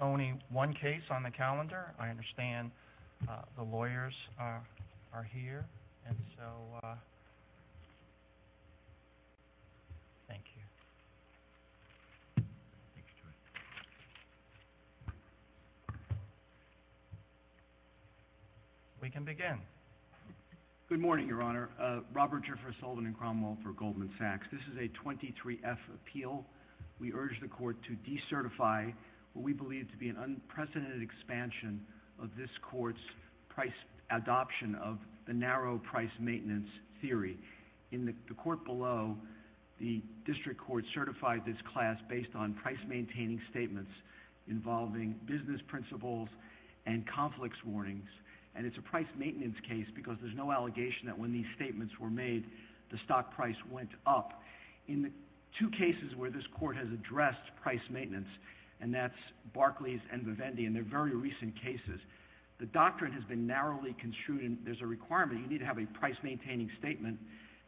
Only one case on the calendar. I understand the lawyers are here. And so, thank you. We can begin. Good morning, Your Honor. Robert Jeffress, Solvin & Cromwell for Goldman Sachs. This is a 23-F appeal. We urge the court to decertify what we believe to be an unprecedented expansion of this court's price adoption of the narrow price maintenance theory. In the court below, the district court certified this class based on price-maintaining statements involving business principles and conflicts warnings. And it's a price maintenance case because there's no allegation that when these statements were made, the stock price went up. In the two cases where this court has addressed price maintenance, and that's Barclays and Vivendi, and they're very recent cases, the doctrine has been narrowly construed, and there's a requirement. You need to have a price-maintaining statement,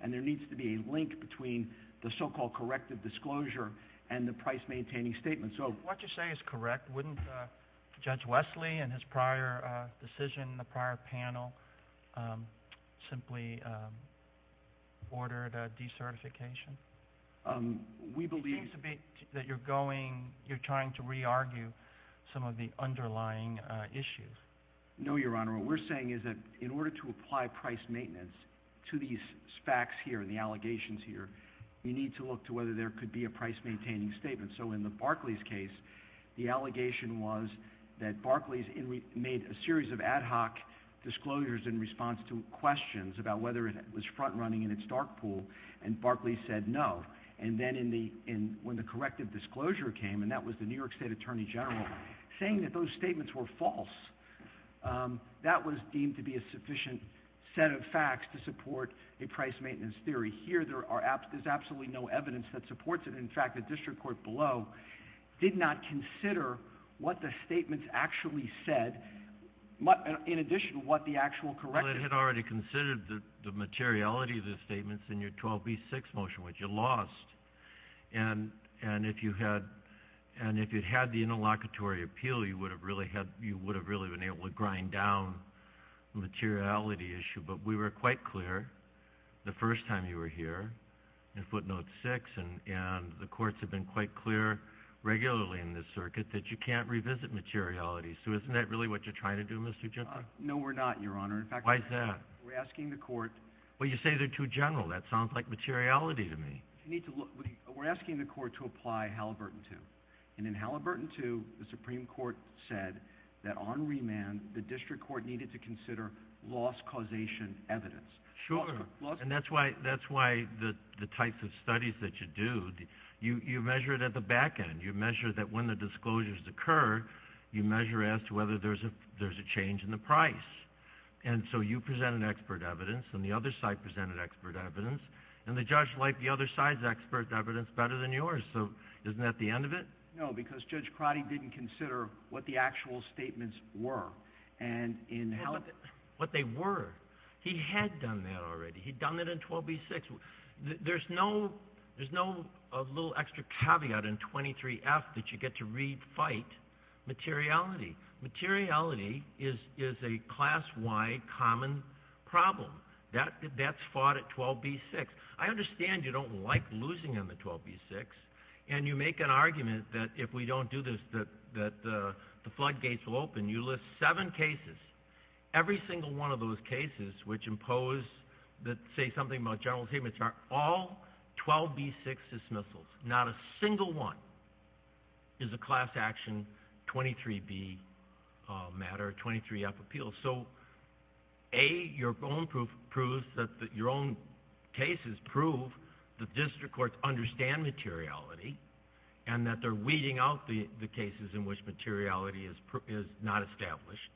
and there needs to be a link between the so-called corrective disclosure and the price-maintaining statement. What you say is correct. Wouldn't Judge Wesley, in his prior decision in the prior panel, simply order the decertification? It seems to me that you're trying to re-argue some of the underlying issues. No, Your Honor. What we're saying is that in order to apply price maintenance to these facts here and the allegations here, you need to look to whether there could be a price-maintaining statement. So in the Barclays case, the allegation was that Barclays made a series of ad hoc disclosures in response to questions about whether it was front-running in its dark pool, and Barclays said no. And then when the corrective disclosure came, and that was the New York State Attorney General saying that those statements were false, that was deemed to be a sufficient set of facts to support a price-maintenance theory. Here, there's absolutely no evidence that supports it. In fact, the district court below did not consider what the statements actually said, in addition to what the actual corrective. Well, it had already considered the materiality of the statements in your 12b-6 motion, which you lost. And if you had the interlocutory appeal, you would have really been able to grind down the materiality issue. But we were quite clear the first time you were here in footnote 6, and the courts have been quite clear regularly in this circuit that you can't revisit materiality. So isn't that really what you're trying to do, Mr. Gentler? No, we're not, Your Honor. Why is that? We're asking the court— Well, you say they're too general. That sounds like materiality to me. We're asking the court to apply Halliburton II. And in Halliburton II, the Supreme Court said that on remand, the district court needed to consider loss-causation evidence. Sure. And that's why the types of studies that you do, you measure it at the back end. You measure that when the disclosures occur, you measure as to whether there's a change in the price. And so you presented expert evidence, and the other side presented expert evidence, and the judge liked the other side's expert evidence better than yours. So isn't that the end of it? No, because Judge Crotty didn't consider what the actual statements were. And in Halliburton— What they were. He had done that already. He'd done it in 12b-6. There's no little extra caveat in 23-F that you get to re-fight materiality. Materiality is a class-wide common problem. That's fought at 12b-6. I understand you don't like losing on the 12b-6, and you make an argument that if we don't do this, that the floodgates will open. You list seven cases. Every single one of those cases which impose, say, something about general statements are all 12b-6 dismissals. Not a single one is a class-action 23b matter, 23-F appeal. So, A, your own cases prove that district courts understand materiality and that they're weeding out the cases in which materiality is not established.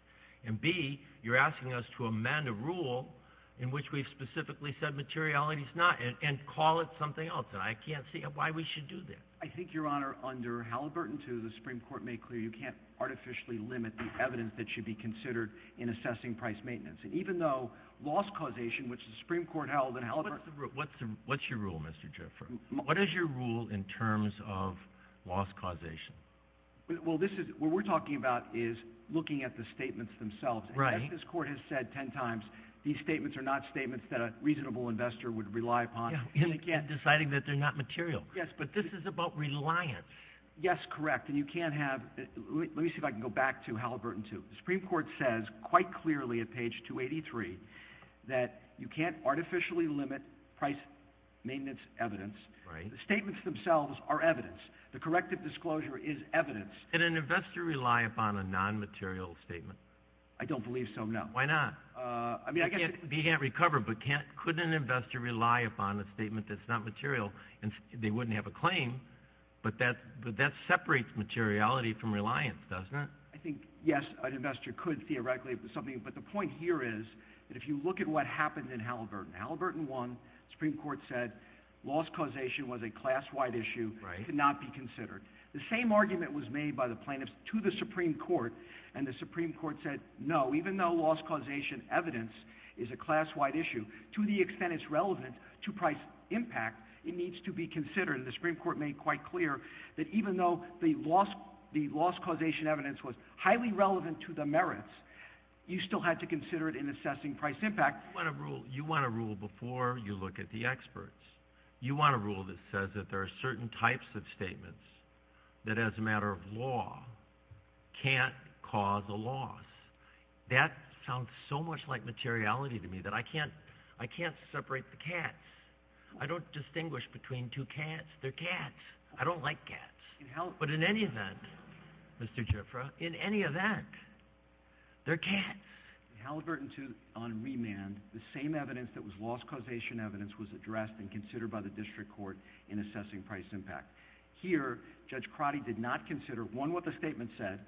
And, B, you're asking us to amend a rule in which we've specifically said materiality is not and call it something else. And I can't see why we should do that. I think, Your Honor, under Halliburton II, the Supreme Court made clear you can't artificially limit the evidence that should be considered in assessing price maintenance. And even though loss causation, which the Supreme Court held in Halliburton II. What's your rule, Mr. Jaffer? What is your rule in terms of loss causation? Well, this is what we're talking about is looking at the statements themselves. Right. And as this Court has said 10 times, these statements are not statements that a reasonable investor would rely upon. And again, deciding that they're not material. Yes, but this is about reliance. Yes, correct. And you can't have – let me see if I can go back to Halliburton II. The Supreme Court says quite clearly at page 283 that you can't artificially limit price maintenance evidence. Right. The statements themselves are evidence. The corrective disclosure is evidence. Can an investor rely upon a non-material statement? I don't believe so, no. Why not? I mean, I guess – He can't recover, but couldn't an investor rely upon a statement that's not material? They wouldn't have a claim, but that separates materiality from reliance, doesn't it? I think, yes, an investor could theoretically, but the point here is that if you look at what happened in Halliburton, Halliburton I, the Supreme Court said loss causation was a class-wide issue. Right. It could not be considered. The same argument was made by the plaintiffs to the Supreme Court, and the Supreme Court said no, even though loss causation evidence is a class-wide issue, to the extent it's relevant to price impact, it needs to be considered. The Supreme Court made quite clear that even though the loss causation evidence was highly relevant to the merits, you still had to consider it in assessing price impact. You want to rule before you look at the experts. You want to rule that says that there are certain types of statements that, as a matter of law, can't cause a loss. That sounds so much like materiality to me, that I can't separate the cats. I don't distinguish between two cats. They're cats. I don't like cats. But in any event, Mr. Gifford, in any event, they're cats. In Halliburton II on remand, the same evidence that was loss causation evidence was addressed and considered by the district court in assessing price impact. Here, Judge Crotty did not consider, one, what the statement said,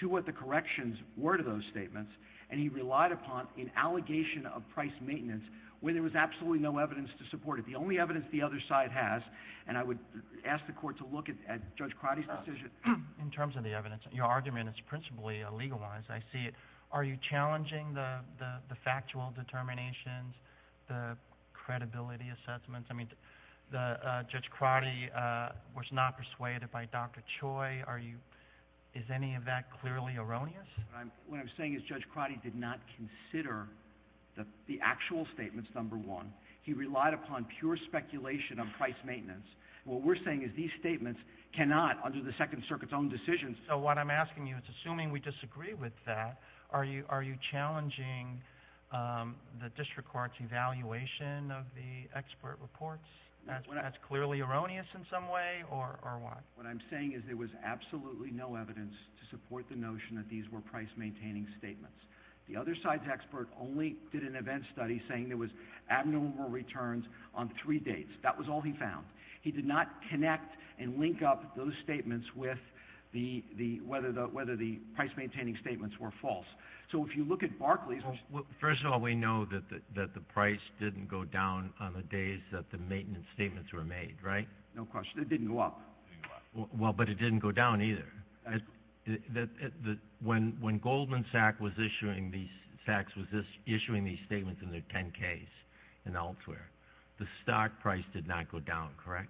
two, what the corrections were to those statements, and he relied upon an allegation of price maintenance where there was absolutely no evidence to support it. The only evidence the other side has, and I would ask the court to look at Judge Crotty's decision. In terms of the evidence, your argument is principally legalized. I see it. Are you challenging the factual determinations, the credibility assessments? I mean, Judge Crotty was not persuaded by Dr. Choi. Is any of that clearly erroneous? What I'm saying is Judge Crotty did not consider the actual statements, number one. He relied upon pure speculation on price maintenance. What we're saying is these statements cannot, under the Second Circuit's own decisions. So what I'm asking you is, assuming we disagree with that, are you challenging the district court's evaluation of the expert reports? That's clearly erroneous in some way, or why? What I'm saying is there was absolutely no evidence to support the notion that these were price-maintaining statements. The other side's expert only did an event study saying there was abnormal returns on three dates. That was all he found. He did not connect and link up those statements with whether the price-maintaining statements were false. So if you look at Barclays. First of all, we know that the price didn't go down on the days that the maintenance statements were made, right? No question. It didn't go up. Well, but it didn't go down either. When Goldman Sachs was issuing these statements in their 10-Ks and elsewhere, the stock price did not go down, correct?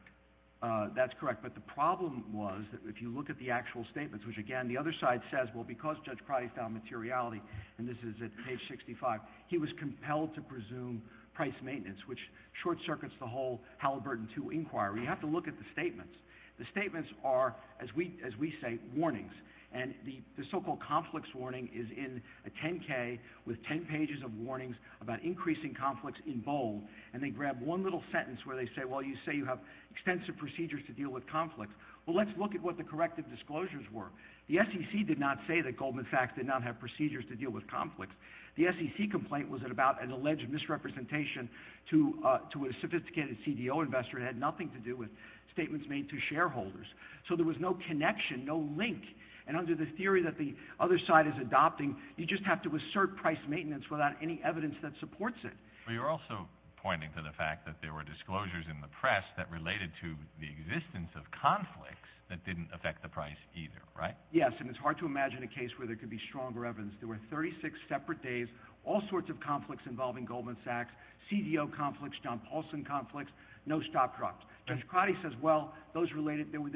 That's correct. But the problem was, if you look at the actual statements, which, again, the other side says, well, because Judge Crotty found materiality, and this is at page 65, he was compelled to presume price maintenance, which short-circuits the whole Halliburton II inquiry. You have to look at the statements. The statements are, as we say, warnings. And the so-called conflicts warning is in a 10-K with 10 pages of warnings about increasing conflicts in bold, and they grab one little sentence where they say, well, you say you have extensive procedures to deal with conflicts. Well, let's look at what the corrective disclosures were. The SEC did not say that Goldman Sachs did not have procedures to deal with conflicts. The SEC complaint was about an alleged misrepresentation to a sophisticated CDO investor. It had nothing to do with statements made to shareholders. So there was no connection, no link. And under the theory that the other side is adopting, you just have to assert price maintenance without any evidence that supports it. But you're also pointing to the fact that there were disclosures in the press that related to the existence of conflicts that didn't affect the price either, right? Yes, and it's hard to imagine a case where there could be stronger evidence. There were 36 separate days, all sorts of conflicts involving Goldman Sachs, CDO conflicts, John Paulson conflicts, no stop drops. Judge Crotty says, well, those related, there were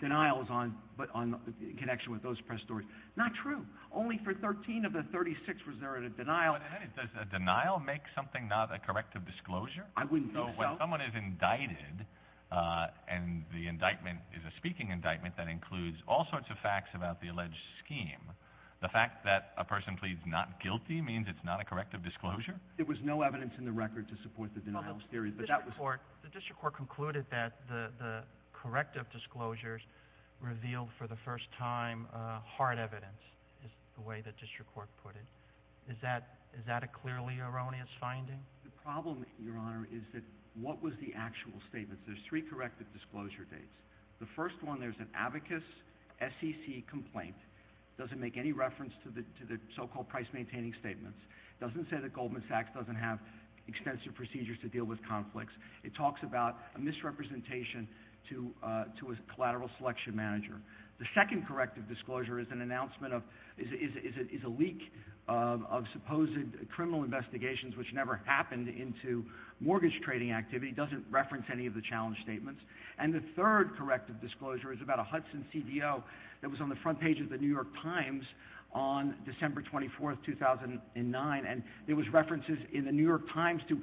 denials in connection with those press stories. Not true. Only for 13 of the 36 was there a denial. Does a denial make something not a corrective disclosure? I wouldn't think so. When someone is indicted and the indictment is a speaking indictment that includes all sorts of facts about the alleged scheme, the fact that a person pleads not guilty means it's not a corrective disclosure? There was no evidence in the record to support the denial theory. The district court concluded that the corrective disclosures revealed for the first time hard evidence, is the way the district court put it. Is that a clearly erroneous finding? The problem, Your Honor, is that what was the actual statement? There's three corrective disclosure dates. The first one, there's an abacus SEC complaint. It doesn't make any reference to the so-called price-maintaining statements. It doesn't say that Goldman Sachs doesn't have extensive procedures to deal with conflicts. It talks about a misrepresentation to a collateral selection manager. The second corrective disclosure is a leak of supposed criminal investigations, which never happened, into mortgage trading activity. It doesn't reference any of the challenge statements. And the third corrective disclosure is about a Hudson CDO that was on the front page of the New York Times on December 24, 2009, and there was references in the New York Times to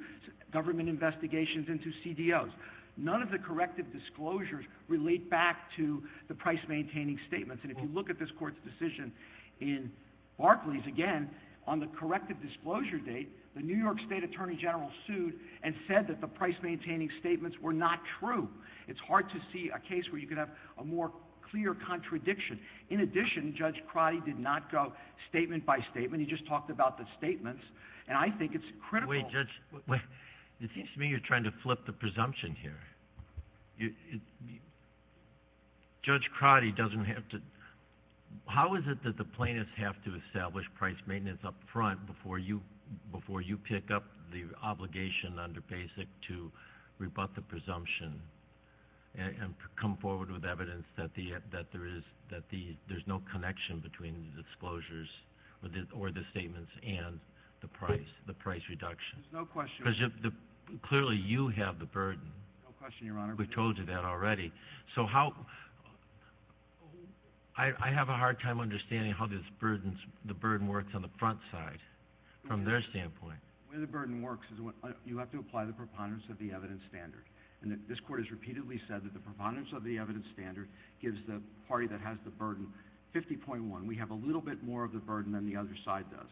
government investigations and to CDOs. None of the corrective disclosures relate back to the price-maintaining statements. And if you look at this court's decision in Barclays, again, on the corrective disclosure date, the New York State Attorney General sued and said that the price-maintaining statements were not true. It's hard to see a case where you could have a more clear contradiction. In addition, Judge Crotty did not go statement by statement. He just talked about the statements, and I think it's critical. Wait, Judge, it seems to me you're trying to flip the presumption here. Judge Crotty doesn't have to – how is it that the plaintiffs have to establish price maintenance up front before you pick up the obligation under Basic to rebut the presumption and come forward with evidence that there's no connection between the disclosures or the statements and the price reduction? There's no question. Because clearly you have the burden. No question, Your Honor. We've told you that already. So how – I have a hard time understanding how the burden works on the front side from their standpoint. The way the burden works is you have to apply the preponderance of the evidence standard. And this court has repeatedly said that the preponderance of the evidence standard gives the party that has the burden 50.1. And we have a little bit more of the burden than the other side does.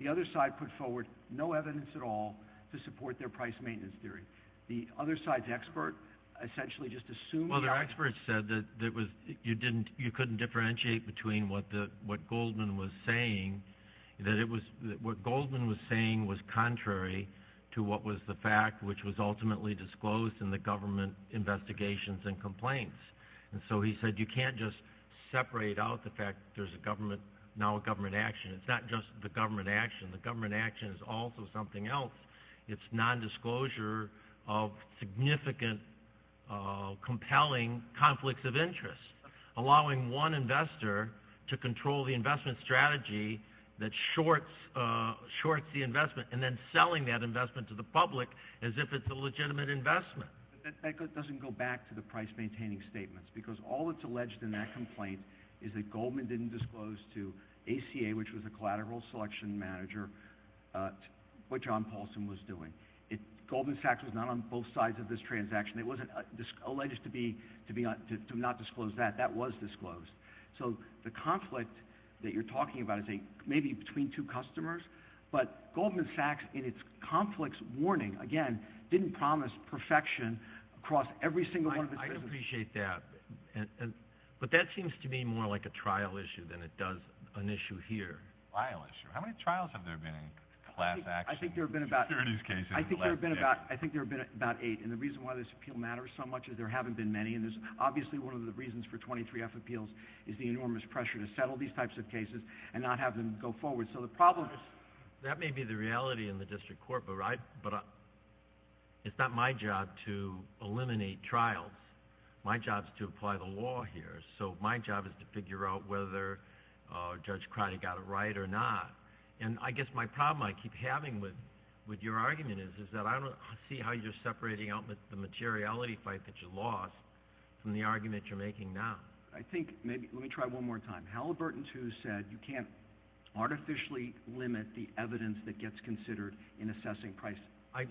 The other side put forward no evidence at all to support their price maintenance theory. The other side's expert essentially just assumed that. Well, the expert said that you couldn't differentiate between what Goldman was saying, that what Goldman was saying was contrary to what was the fact, which was ultimately disclosed in the government investigations and complaints. And so he said you can't just separate out the fact that there's now a government action. It's not just the government action. The government action is also something else. It's nondisclosure of significant, compelling conflicts of interest, allowing one investor to control the investment strategy that shorts the investment and then selling that investment to the public as if it's a legitimate investment. But that doesn't go back to the price-maintaining statements, because all that's alleged in that complaint is that Goldman didn't disclose to ACA, which was the collateral selection manager, what John Paulson was doing. Goldman Sachs was not on both sides of this transaction. It wasn't alleged to not disclose that. That was disclosed. So the conflict that you're talking about is maybe between two customers, but Goldman Sachs in its conflicts warning, again, didn't promise perfection across every single one of its business. I appreciate that, but that seems to me more like a trial issue than it does an issue here. Trial issue. How many trials have there been in class action securities cases in the last decade? I think there have been about eight, and the reason why this appeal matters so much is there haven't been many, and there's obviously one of the reasons for 23F appeals is the enormous pressure to settle these types of cases and not have them go forward. That may be the reality in the district court, but it's not my job to eliminate trials. My job is to apply the law here, so my job is to figure out whether Judge Crotty got it right or not, and I guess my problem I keep having with your argument is that I don't see how you're separating out the materiality fight that you lost from the argument you're making now. Let me try one more time. Halliburton II said you can't artificially limit the evidence that gets considered in assessing price. I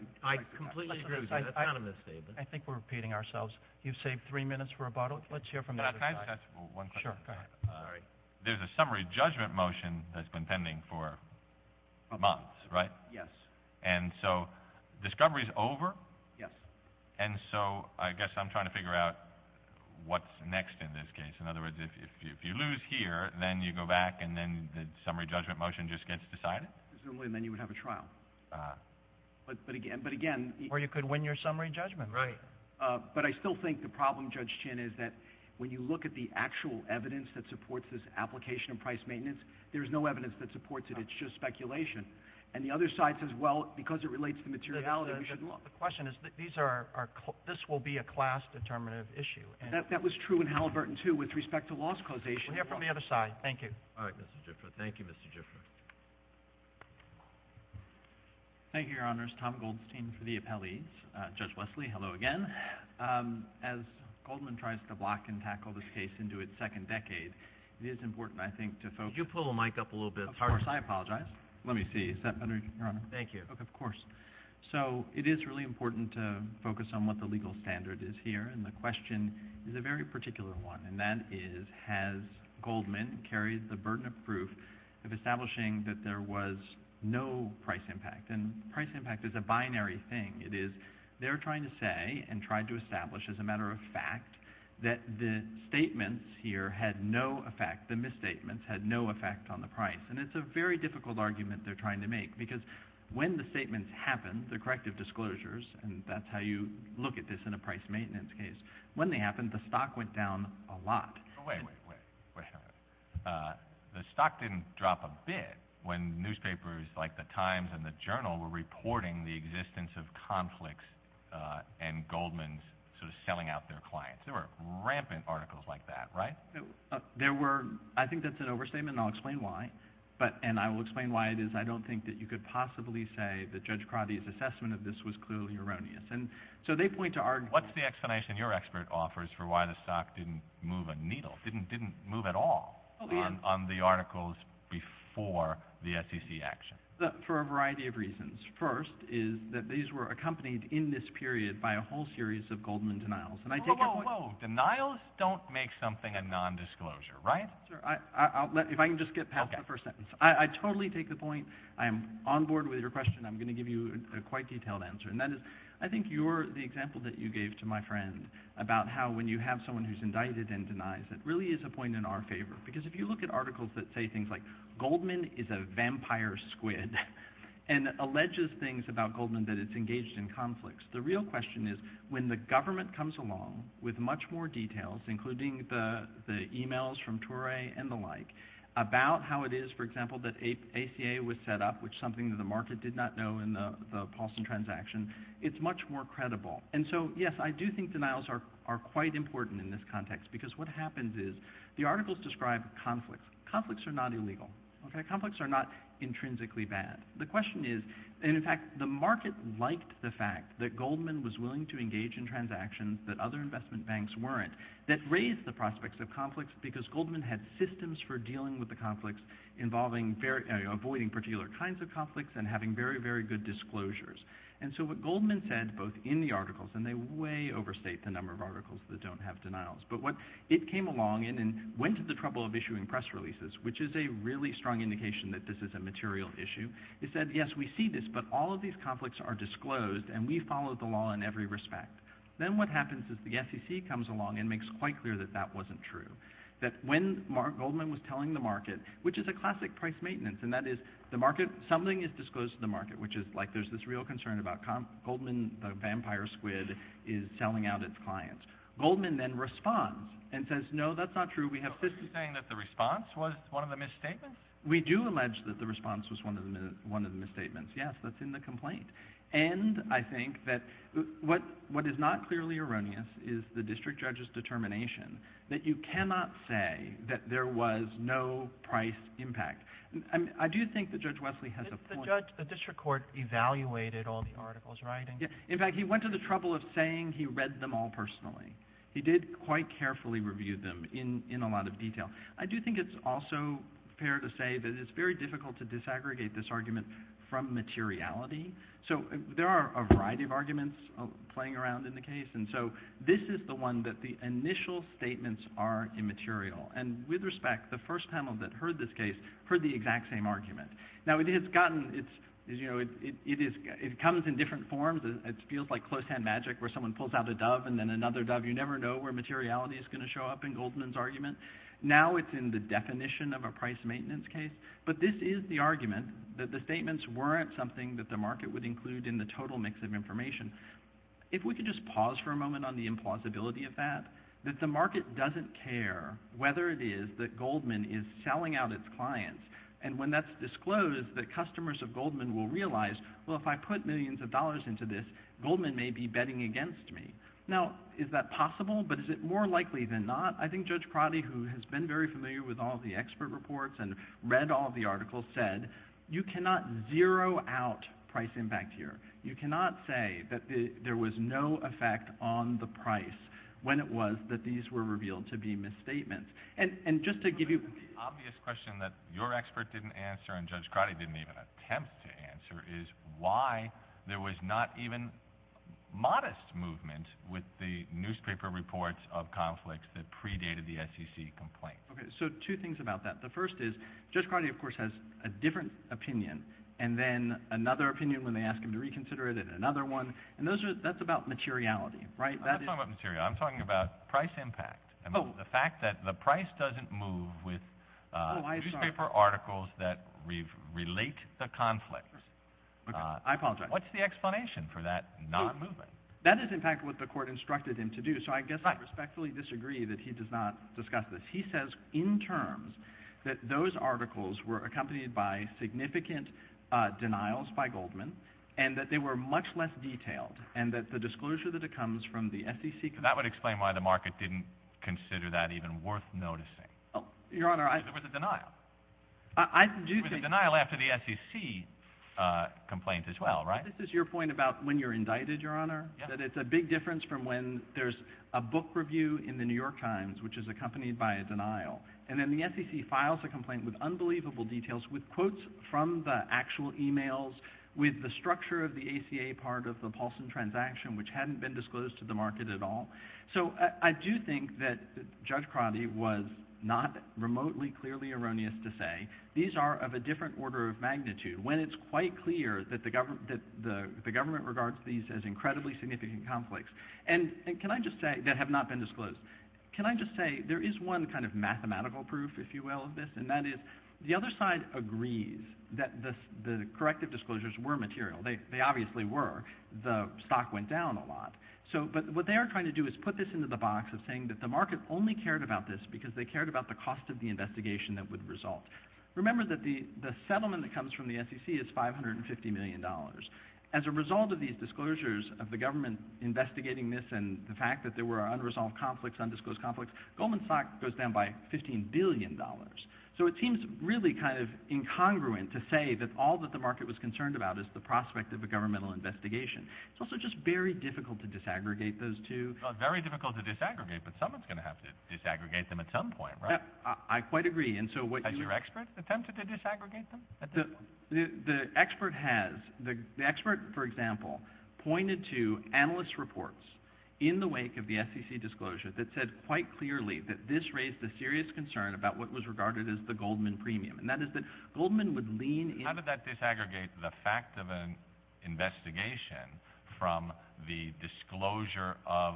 completely agree with that. I think we're repeating ourselves. You've saved three minutes for rebuttal. Let's hear from the other side. Can I touch one question? Sure, go ahead. There's a summary judgment motion that's been pending for months, right? Yes. And so discovery's over? Yes. And so I guess I'm trying to figure out what's next in this case. In other words, if you lose here, then you go back, and then the summary judgment motion just gets decided? Presumably, and then you would have a trial. Ah. But, again— Or you could win your summary judgment. Right. But I still think the problem, Judge Chin, is that when you look at the actual evidence that supports this application of price maintenance, there is no evidence that supports it. It's just speculation. And the other side says, well, because it relates to materiality, we should— The question is, this will be a class-determinative issue. That was true in Halliburton, too, with respect to loss causation. We'll hear from the other side. Thank you. All right, Mr. Gifford. Thank you, Mr. Gifford. Thank you, Your Honors. Tom Goldstein for the appellees. Judge Wesley, hello again. As Goldman tries to block and tackle this case into its second decade, it is important, I think, to focus— Could you pull the mic up a little bit? Of course. I apologize. Let me see. Is that better, Your Honor? Thank you. Of course. So it is really important to focus on what the legal standard is here, and the question is a very particular one, and that is, has Goldman carried the burden of proof of establishing that there was no price impact? And price impact is a binary thing. It is they're trying to say and tried to establish as a matter of fact that the statements here had no effect, the misstatements had no effect on the price. And it's a very difficult argument they're trying to make because when the statements happened, the corrective disclosures, and that's how you look at this in a price maintenance case, when they happened, the stock went down a lot. Wait a minute. The stock didn't drop a bit when newspapers like The Times and the Journal were reporting the existence of conflicts and Goldman's sort of selling out their clients. There were rampant articles like that, right? I think that's an overstatement, and I'll explain why. And I will explain why it is I don't think that you could possibly say that Judge Crotty's assessment of this was clearly erroneous. So they point to arguments. What's the explanation your expert offers for why the stock didn't move a needle, didn't move at all on the articles before the SEC action? For a variety of reasons. First is that these were accompanied in this period by a whole series of Goldman denials. Whoa, whoa, whoa. Denials don't make something a nondisclosure, right? If I can just get past the first sentence. I totally take the point. I am on board with your question. I'm going to give you a quite detailed answer, and that is I think the example that you gave to my friend about how when you have someone who's indicted and denies it really is a point in our favor. Because if you look at articles that say things like Goldman is a vampire squid and alleges things about Goldman that it's engaged in conflicts, the real question is when the government comes along with much more details, including the e-mails from Torrey and the like, about how it is, for example, that ACA was set up, which is something that the market did not know in the Paulson transaction, it's much more credible. And so, yes, I do think denials are quite important in this context because what happens is the articles describe conflicts. Conflicts are not illegal. Conflicts are not intrinsically bad. The question is, and in fact, the market liked the fact that Goldman was willing to engage in transactions that other investment banks weren't, that raised the prospects of conflicts because Goldman had systems for dealing with the conflicts, avoiding particular kinds of conflicts, and having very, very good disclosures. And so what Goldman said, both in the articles, and they way overstate the number of articles that don't have denials, but what it came along in and went to the trouble of issuing press releases, which is a really strong indication that this is a material issue, is that, yes, we see this, but all of these conflicts are disclosed and we follow the law in every respect. Then what happens is the SEC comes along and makes quite clear that that wasn't true, that when Goldman was telling the market, which is a classic price maintenance, and that is the market, something is disclosed to the market, which is like there's this real concern about Goldman, the vampire squid, is selling out its clients. Goldman then responds and says, no, that's not true. We have systems. So are you saying that the response was one of the misstatements? We do allege that the response was one of the misstatements. Yes, that's in the complaint. And I think that what is not clearly erroneous is the district judge's determination that you cannot say that there was no price impact. I do think that Judge Wesley has a point. The district court evaluated all the articles, right? In fact, he went to the trouble of saying he read them all personally. He did quite carefully review them in a lot of detail. I do think it's also fair to say that it's very difficult to disaggregate this argument from materiality. So there are a variety of arguments playing around in the case, and so this is the one that the initial statements are immaterial. And with respect, the first panel that heard this case heard the exact same argument. Now, it comes in different forms. It feels like close-hand magic where someone pulls out a dove and then another dove. You never know where materiality is going to show up in Goldman's argument. Now it's in the definition of a price maintenance case. But this is the argument that the statements weren't something that the market would include in the total mix of information. If we could just pause for a moment on the implausibility of that, that the market doesn't care whether it is that Goldman is selling out its clients. And when that's disclosed, the customers of Goldman will realize, well, if I put millions of dollars into this, Goldman may be betting against me. Now, is that possible? But is it more likely than not? I think Judge Crotty, who has been very familiar with all the expert reports and read all the articles, said you cannot zero out price impact here. You cannot say that there was no effect on the price when it was that these were revealed to be misstatements. And just to give you— The obvious question that your expert didn't answer and Judge Crotty didn't even attempt to answer is why there was not even modest movement with the newspaper reports of conflicts that predated the SEC complaint. So two things about that. The first is Judge Crotty, of course, has a different opinion, and then another opinion when they ask him to reconsider it, and another one. And that's about materiality. I'm not talking about materiality. I'm talking about price impact. The fact that the price doesn't move with newspaper articles that relate the conflict. I apologize. What's the explanation for that not moving? That is, in fact, what the court instructed him to do. So I guess I respectfully disagree that he does not discuss this. He says in terms that those articles were accompanied by significant denials by Goldman and that they were much less detailed and that the disclosure that it comes from the SEC— That would explain why the market didn't consider that even worth noticing. Your Honor, I— Because there was a denial. I do think— There was a denial after the SEC complaint as well, right? This is your point about when you're indicted, Your Honor, that it's a big difference from when there's a book review in the New York Times which is accompanied by a denial. And then the SEC files a complaint with unbelievable details, with quotes from the actual emails, with the structure of the ACA part of the Paulson transaction which hadn't been disclosed to the market at all. So I do think that Judge Crotty was not remotely clearly erroneous to say these are of a different order of magnitude when it's quite clear that the government regards these as incredibly significant conflicts that have not been disclosed. Can I just say there is one kind of mathematical proof, if you will, of this, and that is the other side agrees that the corrective disclosures were material. They obviously were. The stock went down a lot. But what they are trying to do is put this into the box of saying that the market only cared about this because they cared about the cost of the investigation that would result. Remember that the settlement that comes from the SEC is $550 million. As a result of these disclosures of the government investigating this and the fact that there were unresolved conflicts, undisclosed conflicts, Goldman Sachs goes down by $15 billion. So it seems really kind of incongruent to say that all that the market was concerned about is the prospect of a governmental investigation. It's also just very difficult to disaggregate those two. Well, it's very difficult to disaggregate, but someone's going to have to disaggregate them at some point, right? I quite agree. Has your expert attempted to disaggregate them at this point? The expert has. The expert, for example, pointed to analyst reports in the wake of the SEC disclosure that said quite clearly that this raised a serious concern about what was regarded as the Goldman premium, and that is that Goldman would lean in— How did that disaggregate the fact of an investigation from the disclosure of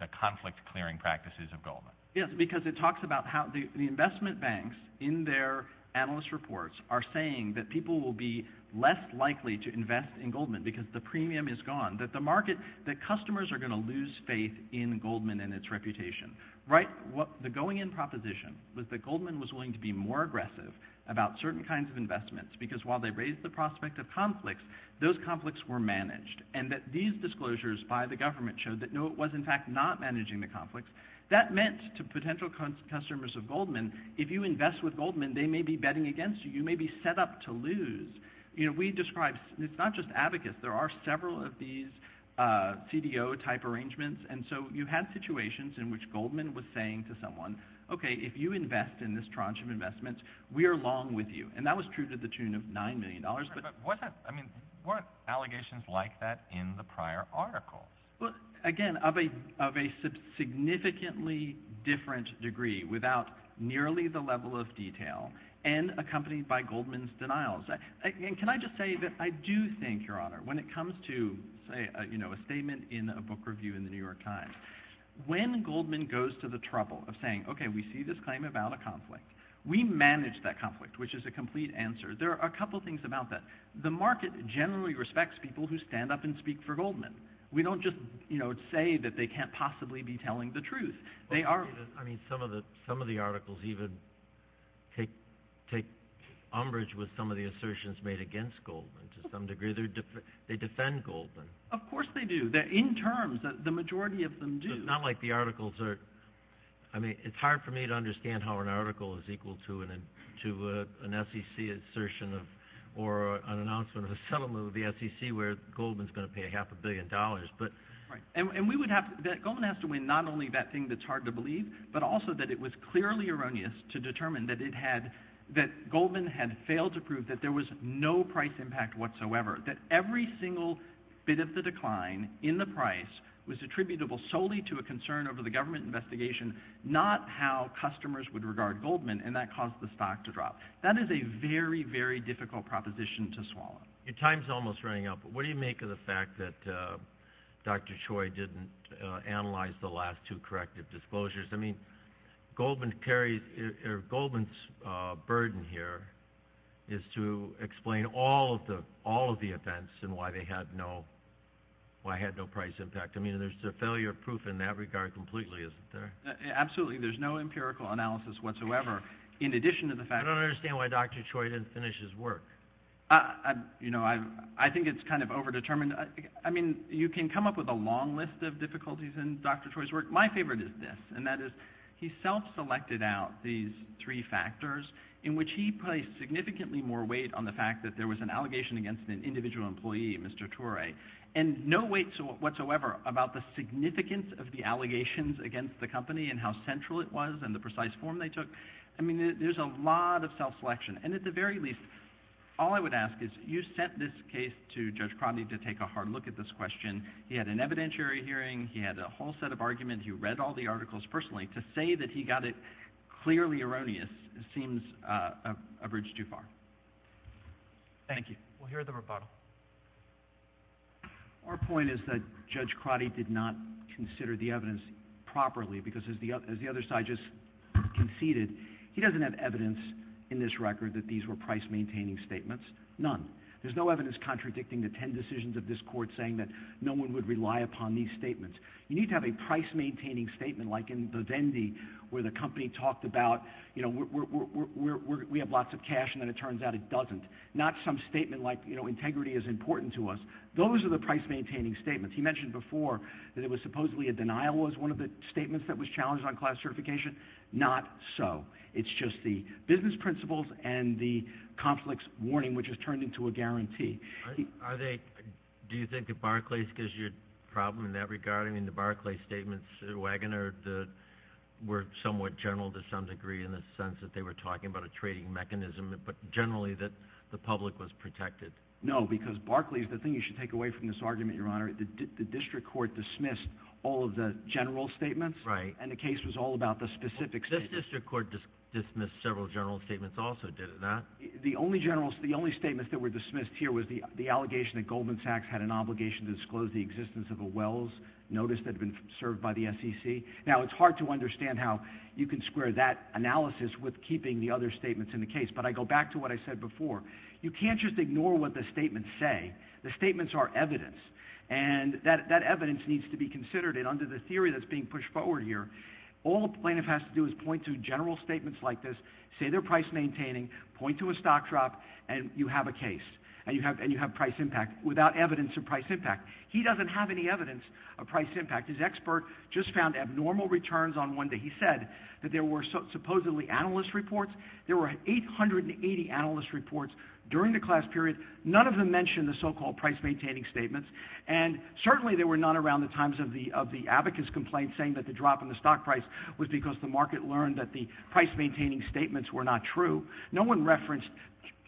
the conflict-clearing practices of Goldman? Yes, because it talks about how the investment banks in their analyst reports are saying that people will be less likely to invest in Goldman because the premium is gone, that customers are going to lose faith in Goldman and its reputation. The going-in proposition was that Goldman was willing to be more aggressive about certain kinds of investments because while they raised the prospect of conflicts, those conflicts were managed, and that these disclosures by the government showed that no, it was in fact not managing the conflicts. That meant to potential customers of Goldman, if you invest with Goldman, they may be betting against you. You may be set up to lose. We describe—it's not just abacus. There are several of these CDO-type arrangements, and so you had situations in which Goldman was saying to someone, okay, if you invest in this tranche of investments, we are long with you. And that was true to the tune of $9 million. But weren't allegations like that in the prior articles? Again, of a significantly different degree, without nearly the level of detail, and accompanied by Goldman's denials. Can I just say that I do think, Your Honor, when it comes to a statement in a book review in the New York Times, when Goldman goes to the trouble of saying, okay, we see this claim about a conflict, we manage that conflict, which is a complete answer. There are a couple of things about that. The market generally respects people who stand up and speak for Goldman. We don't just say that they can't possibly be telling the truth. I mean, some of the articles even take umbrage with some of the assertions made against Goldman to some degree. They defend Goldman. Of course they do. In terms, the majority of them do. But not like the articles are— I mean, it's hard for me to understand how an article is equal to an SEC assertion or an announcement of a settlement with the SEC where Goldman's going to pay half a billion dollars. Right. And we would have to— Goldman has to win not only that thing that's hard to believe, but also that it was clearly erroneous to determine that it had— that Goldman had failed to prove that there was no price impact whatsoever, that every single bit of the decline in the price was attributable solely to a concern over the government investigation, not how customers would regard Goldman, and that caused the stock to drop. That is a very, very difficult proposition to swallow. Your time's almost running out, but what do you make of the fact that Dr. Choi didn't analyze the last two corrective disclosures? I mean, Goldman carries—Goldman's burden here is to explain all of the events and why they had no—why it had no price impact. I mean, there's a failure of proof in that regard completely, isn't there? Absolutely. There's no empirical analysis whatsoever in addition to the fact— I don't understand why Dr. Choi didn't finish his work. You know, I think it's kind of overdetermined. I mean, you can come up with a long list of difficulties in Dr. Choi's work. My favorite is this, and that is he self-selected out these three factors in which he placed significantly more weight on the fact that there was an allegation against an individual employee, Mr. Choi, and no weight whatsoever about the significance of the allegations against the company and how central it was and the precise form they took. I mean, there's a lot of self-selection, and at the very least, all I would ask is you sent this case to Judge Crotty to take a hard look at this question. He had an evidentiary hearing. He had a whole set of arguments. He read all the articles personally. To say that he got it clearly erroneous seems a bridge too far. Thank you. We'll hear the rebuttal. Our point is that Judge Crotty did not consider the evidence properly because, as the other side just conceded, he doesn't have evidence in this record that these were price-maintaining statements. None. There's no evidence contradicting the ten decisions of this court saying that no one would rely upon these statements. You need to have a price-maintaining statement, like in the Vendy where the company talked about, you know, we have lots of cash, and then it turns out it doesn't. Not some statement like, you know, integrity is important to us. Those are the price-maintaining statements. He mentioned before that it was supposedly a denial was one of the statements that was challenged on class certification. Not so. It's just the business principles and the conflicts warning, which has turned into a guarantee. Do you think that Barclays gives you a problem in that regard? I mean, the Barclays statements, Wagoner, were somewhat general to some degree in the sense that they were talking about a trading mechanism, but generally that the public was protected. No, because Barclays, the thing you should take away from this argument, Your Honor, the district court dismissed all of the general statements, and the case was all about the specific statements. The district court dismissed several general statements also, did it not? The only general statements that were dismissed here was the allegation that Goldman Sachs had an obligation to disclose the existence of a Wells notice that had been served by the SEC. Now, it's hard to understand how you can square that analysis with keeping the other statements in the case, but I go back to what I said before. You can't just ignore what the statements say. The statements are evidence, and that evidence needs to be considered, and under the theory that's being pushed forward here, all a plaintiff has to do is point to general statements like this, say they're price-maintaining, point to a stock drop, and you have a case, and you have price impact, without evidence of price impact. He doesn't have any evidence of price impact. His expert just found abnormal returns on one day. He said that there were supposedly analyst reports. There were 880 analyst reports during the class period. None of them mentioned the so-called price-maintaining statements, and certainly there were none around the times of the abacus complaint saying that the drop in the stock price was because the market learned that the price-maintaining statements were not true. No one referenced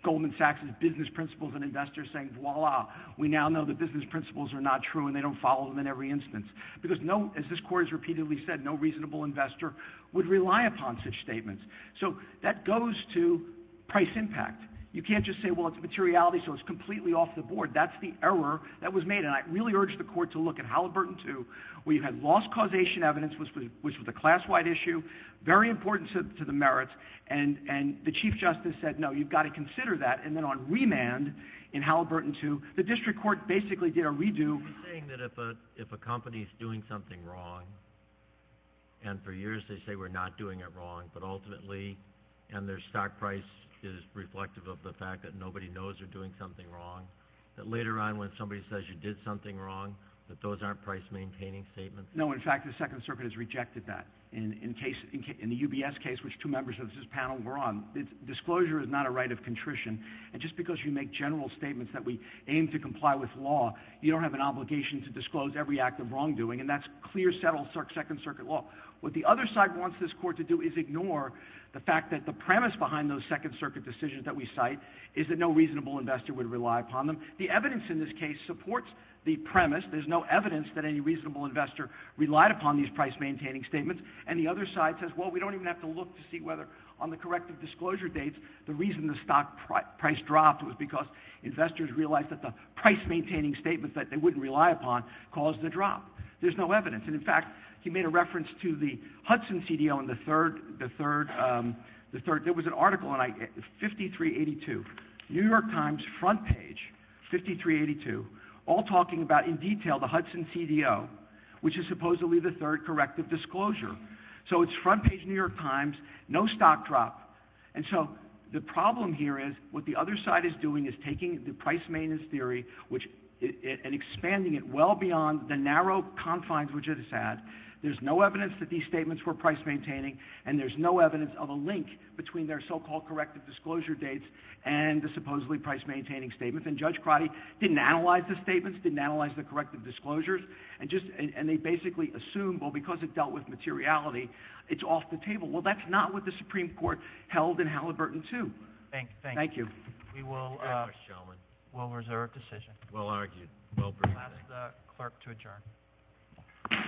Goldman Sachs' business principles and investors saying, voila, we now know that business principles are not true, and they don't follow them in every instance, because, as this court has repeatedly said, no reasonable investor would rely upon such statements. So that goes to price impact. You can't just say, well, it's materiality, so it's completely off the board. That's the error that was made, and I really urge the court to look at Halliburton II, where you had lost causation evidence, which was a class-wide issue, very important to the merits, and the chief justice said, no, you've got to consider that, and then on remand in Halliburton II, the district court basically did a redo. He's saying that if a company is doing something wrong, and for years they say we're not doing it wrong, but ultimately, and their stock price is reflective of the fact that nobody knows they're doing something wrong, that later on when somebody says you did something wrong, that those aren't price-maintaining statements. No, in fact, the Second Circuit has rejected that. In the UBS case, which two members of this panel were on, disclosure is not a right of contrition, and just because you make general statements that we aim to comply with law, you don't have an obligation to disclose every act of wrongdoing, and that's clear, settled Second Circuit law. What the other side wants this court to do is ignore the fact that the premise behind those Second Circuit decisions that we cite is that no reasonable investor would rely upon them. The evidence in this case supports the premise. There's no evidence that any reasonable investor relied upon these price-maintaining statements, and the other side says, well, we don't even have to look to see whether on the corrective disclosure dates the reason the stock price dropped was because investors realized that the price-maintaining statements that they wouldn't rely upon caused the drop. There's no evidence, and in fact, he made a reference to the Hudson CDO on the third, there was an article on 5382, New York Times front page, 5382, all talking about in detail the Hudson CDO, which is supposedly the third corrective disclosure. So it's front page New York Times, no stock drop, and so the problem here is what the other side is doing is taking the price-maintenance theory and expanding it well beyond the narrow confines which it has had. There's no evidence that these statements were price-maintaining, and there's no evidence of a link between their so-called corrective disclosure dates and the supposedly price-maintaining statements, and Judge Crotty didn't analyze the statements, didn't analyze the corrective disclosures, and they basically assumed, well, because it dealt with materiality, it's off the table. Well, that's not what the Supreme Court held in Halliburton II. Thank you. We will reserve a decision. Well argued. Well presented. I'll ask the clerk to adjourn.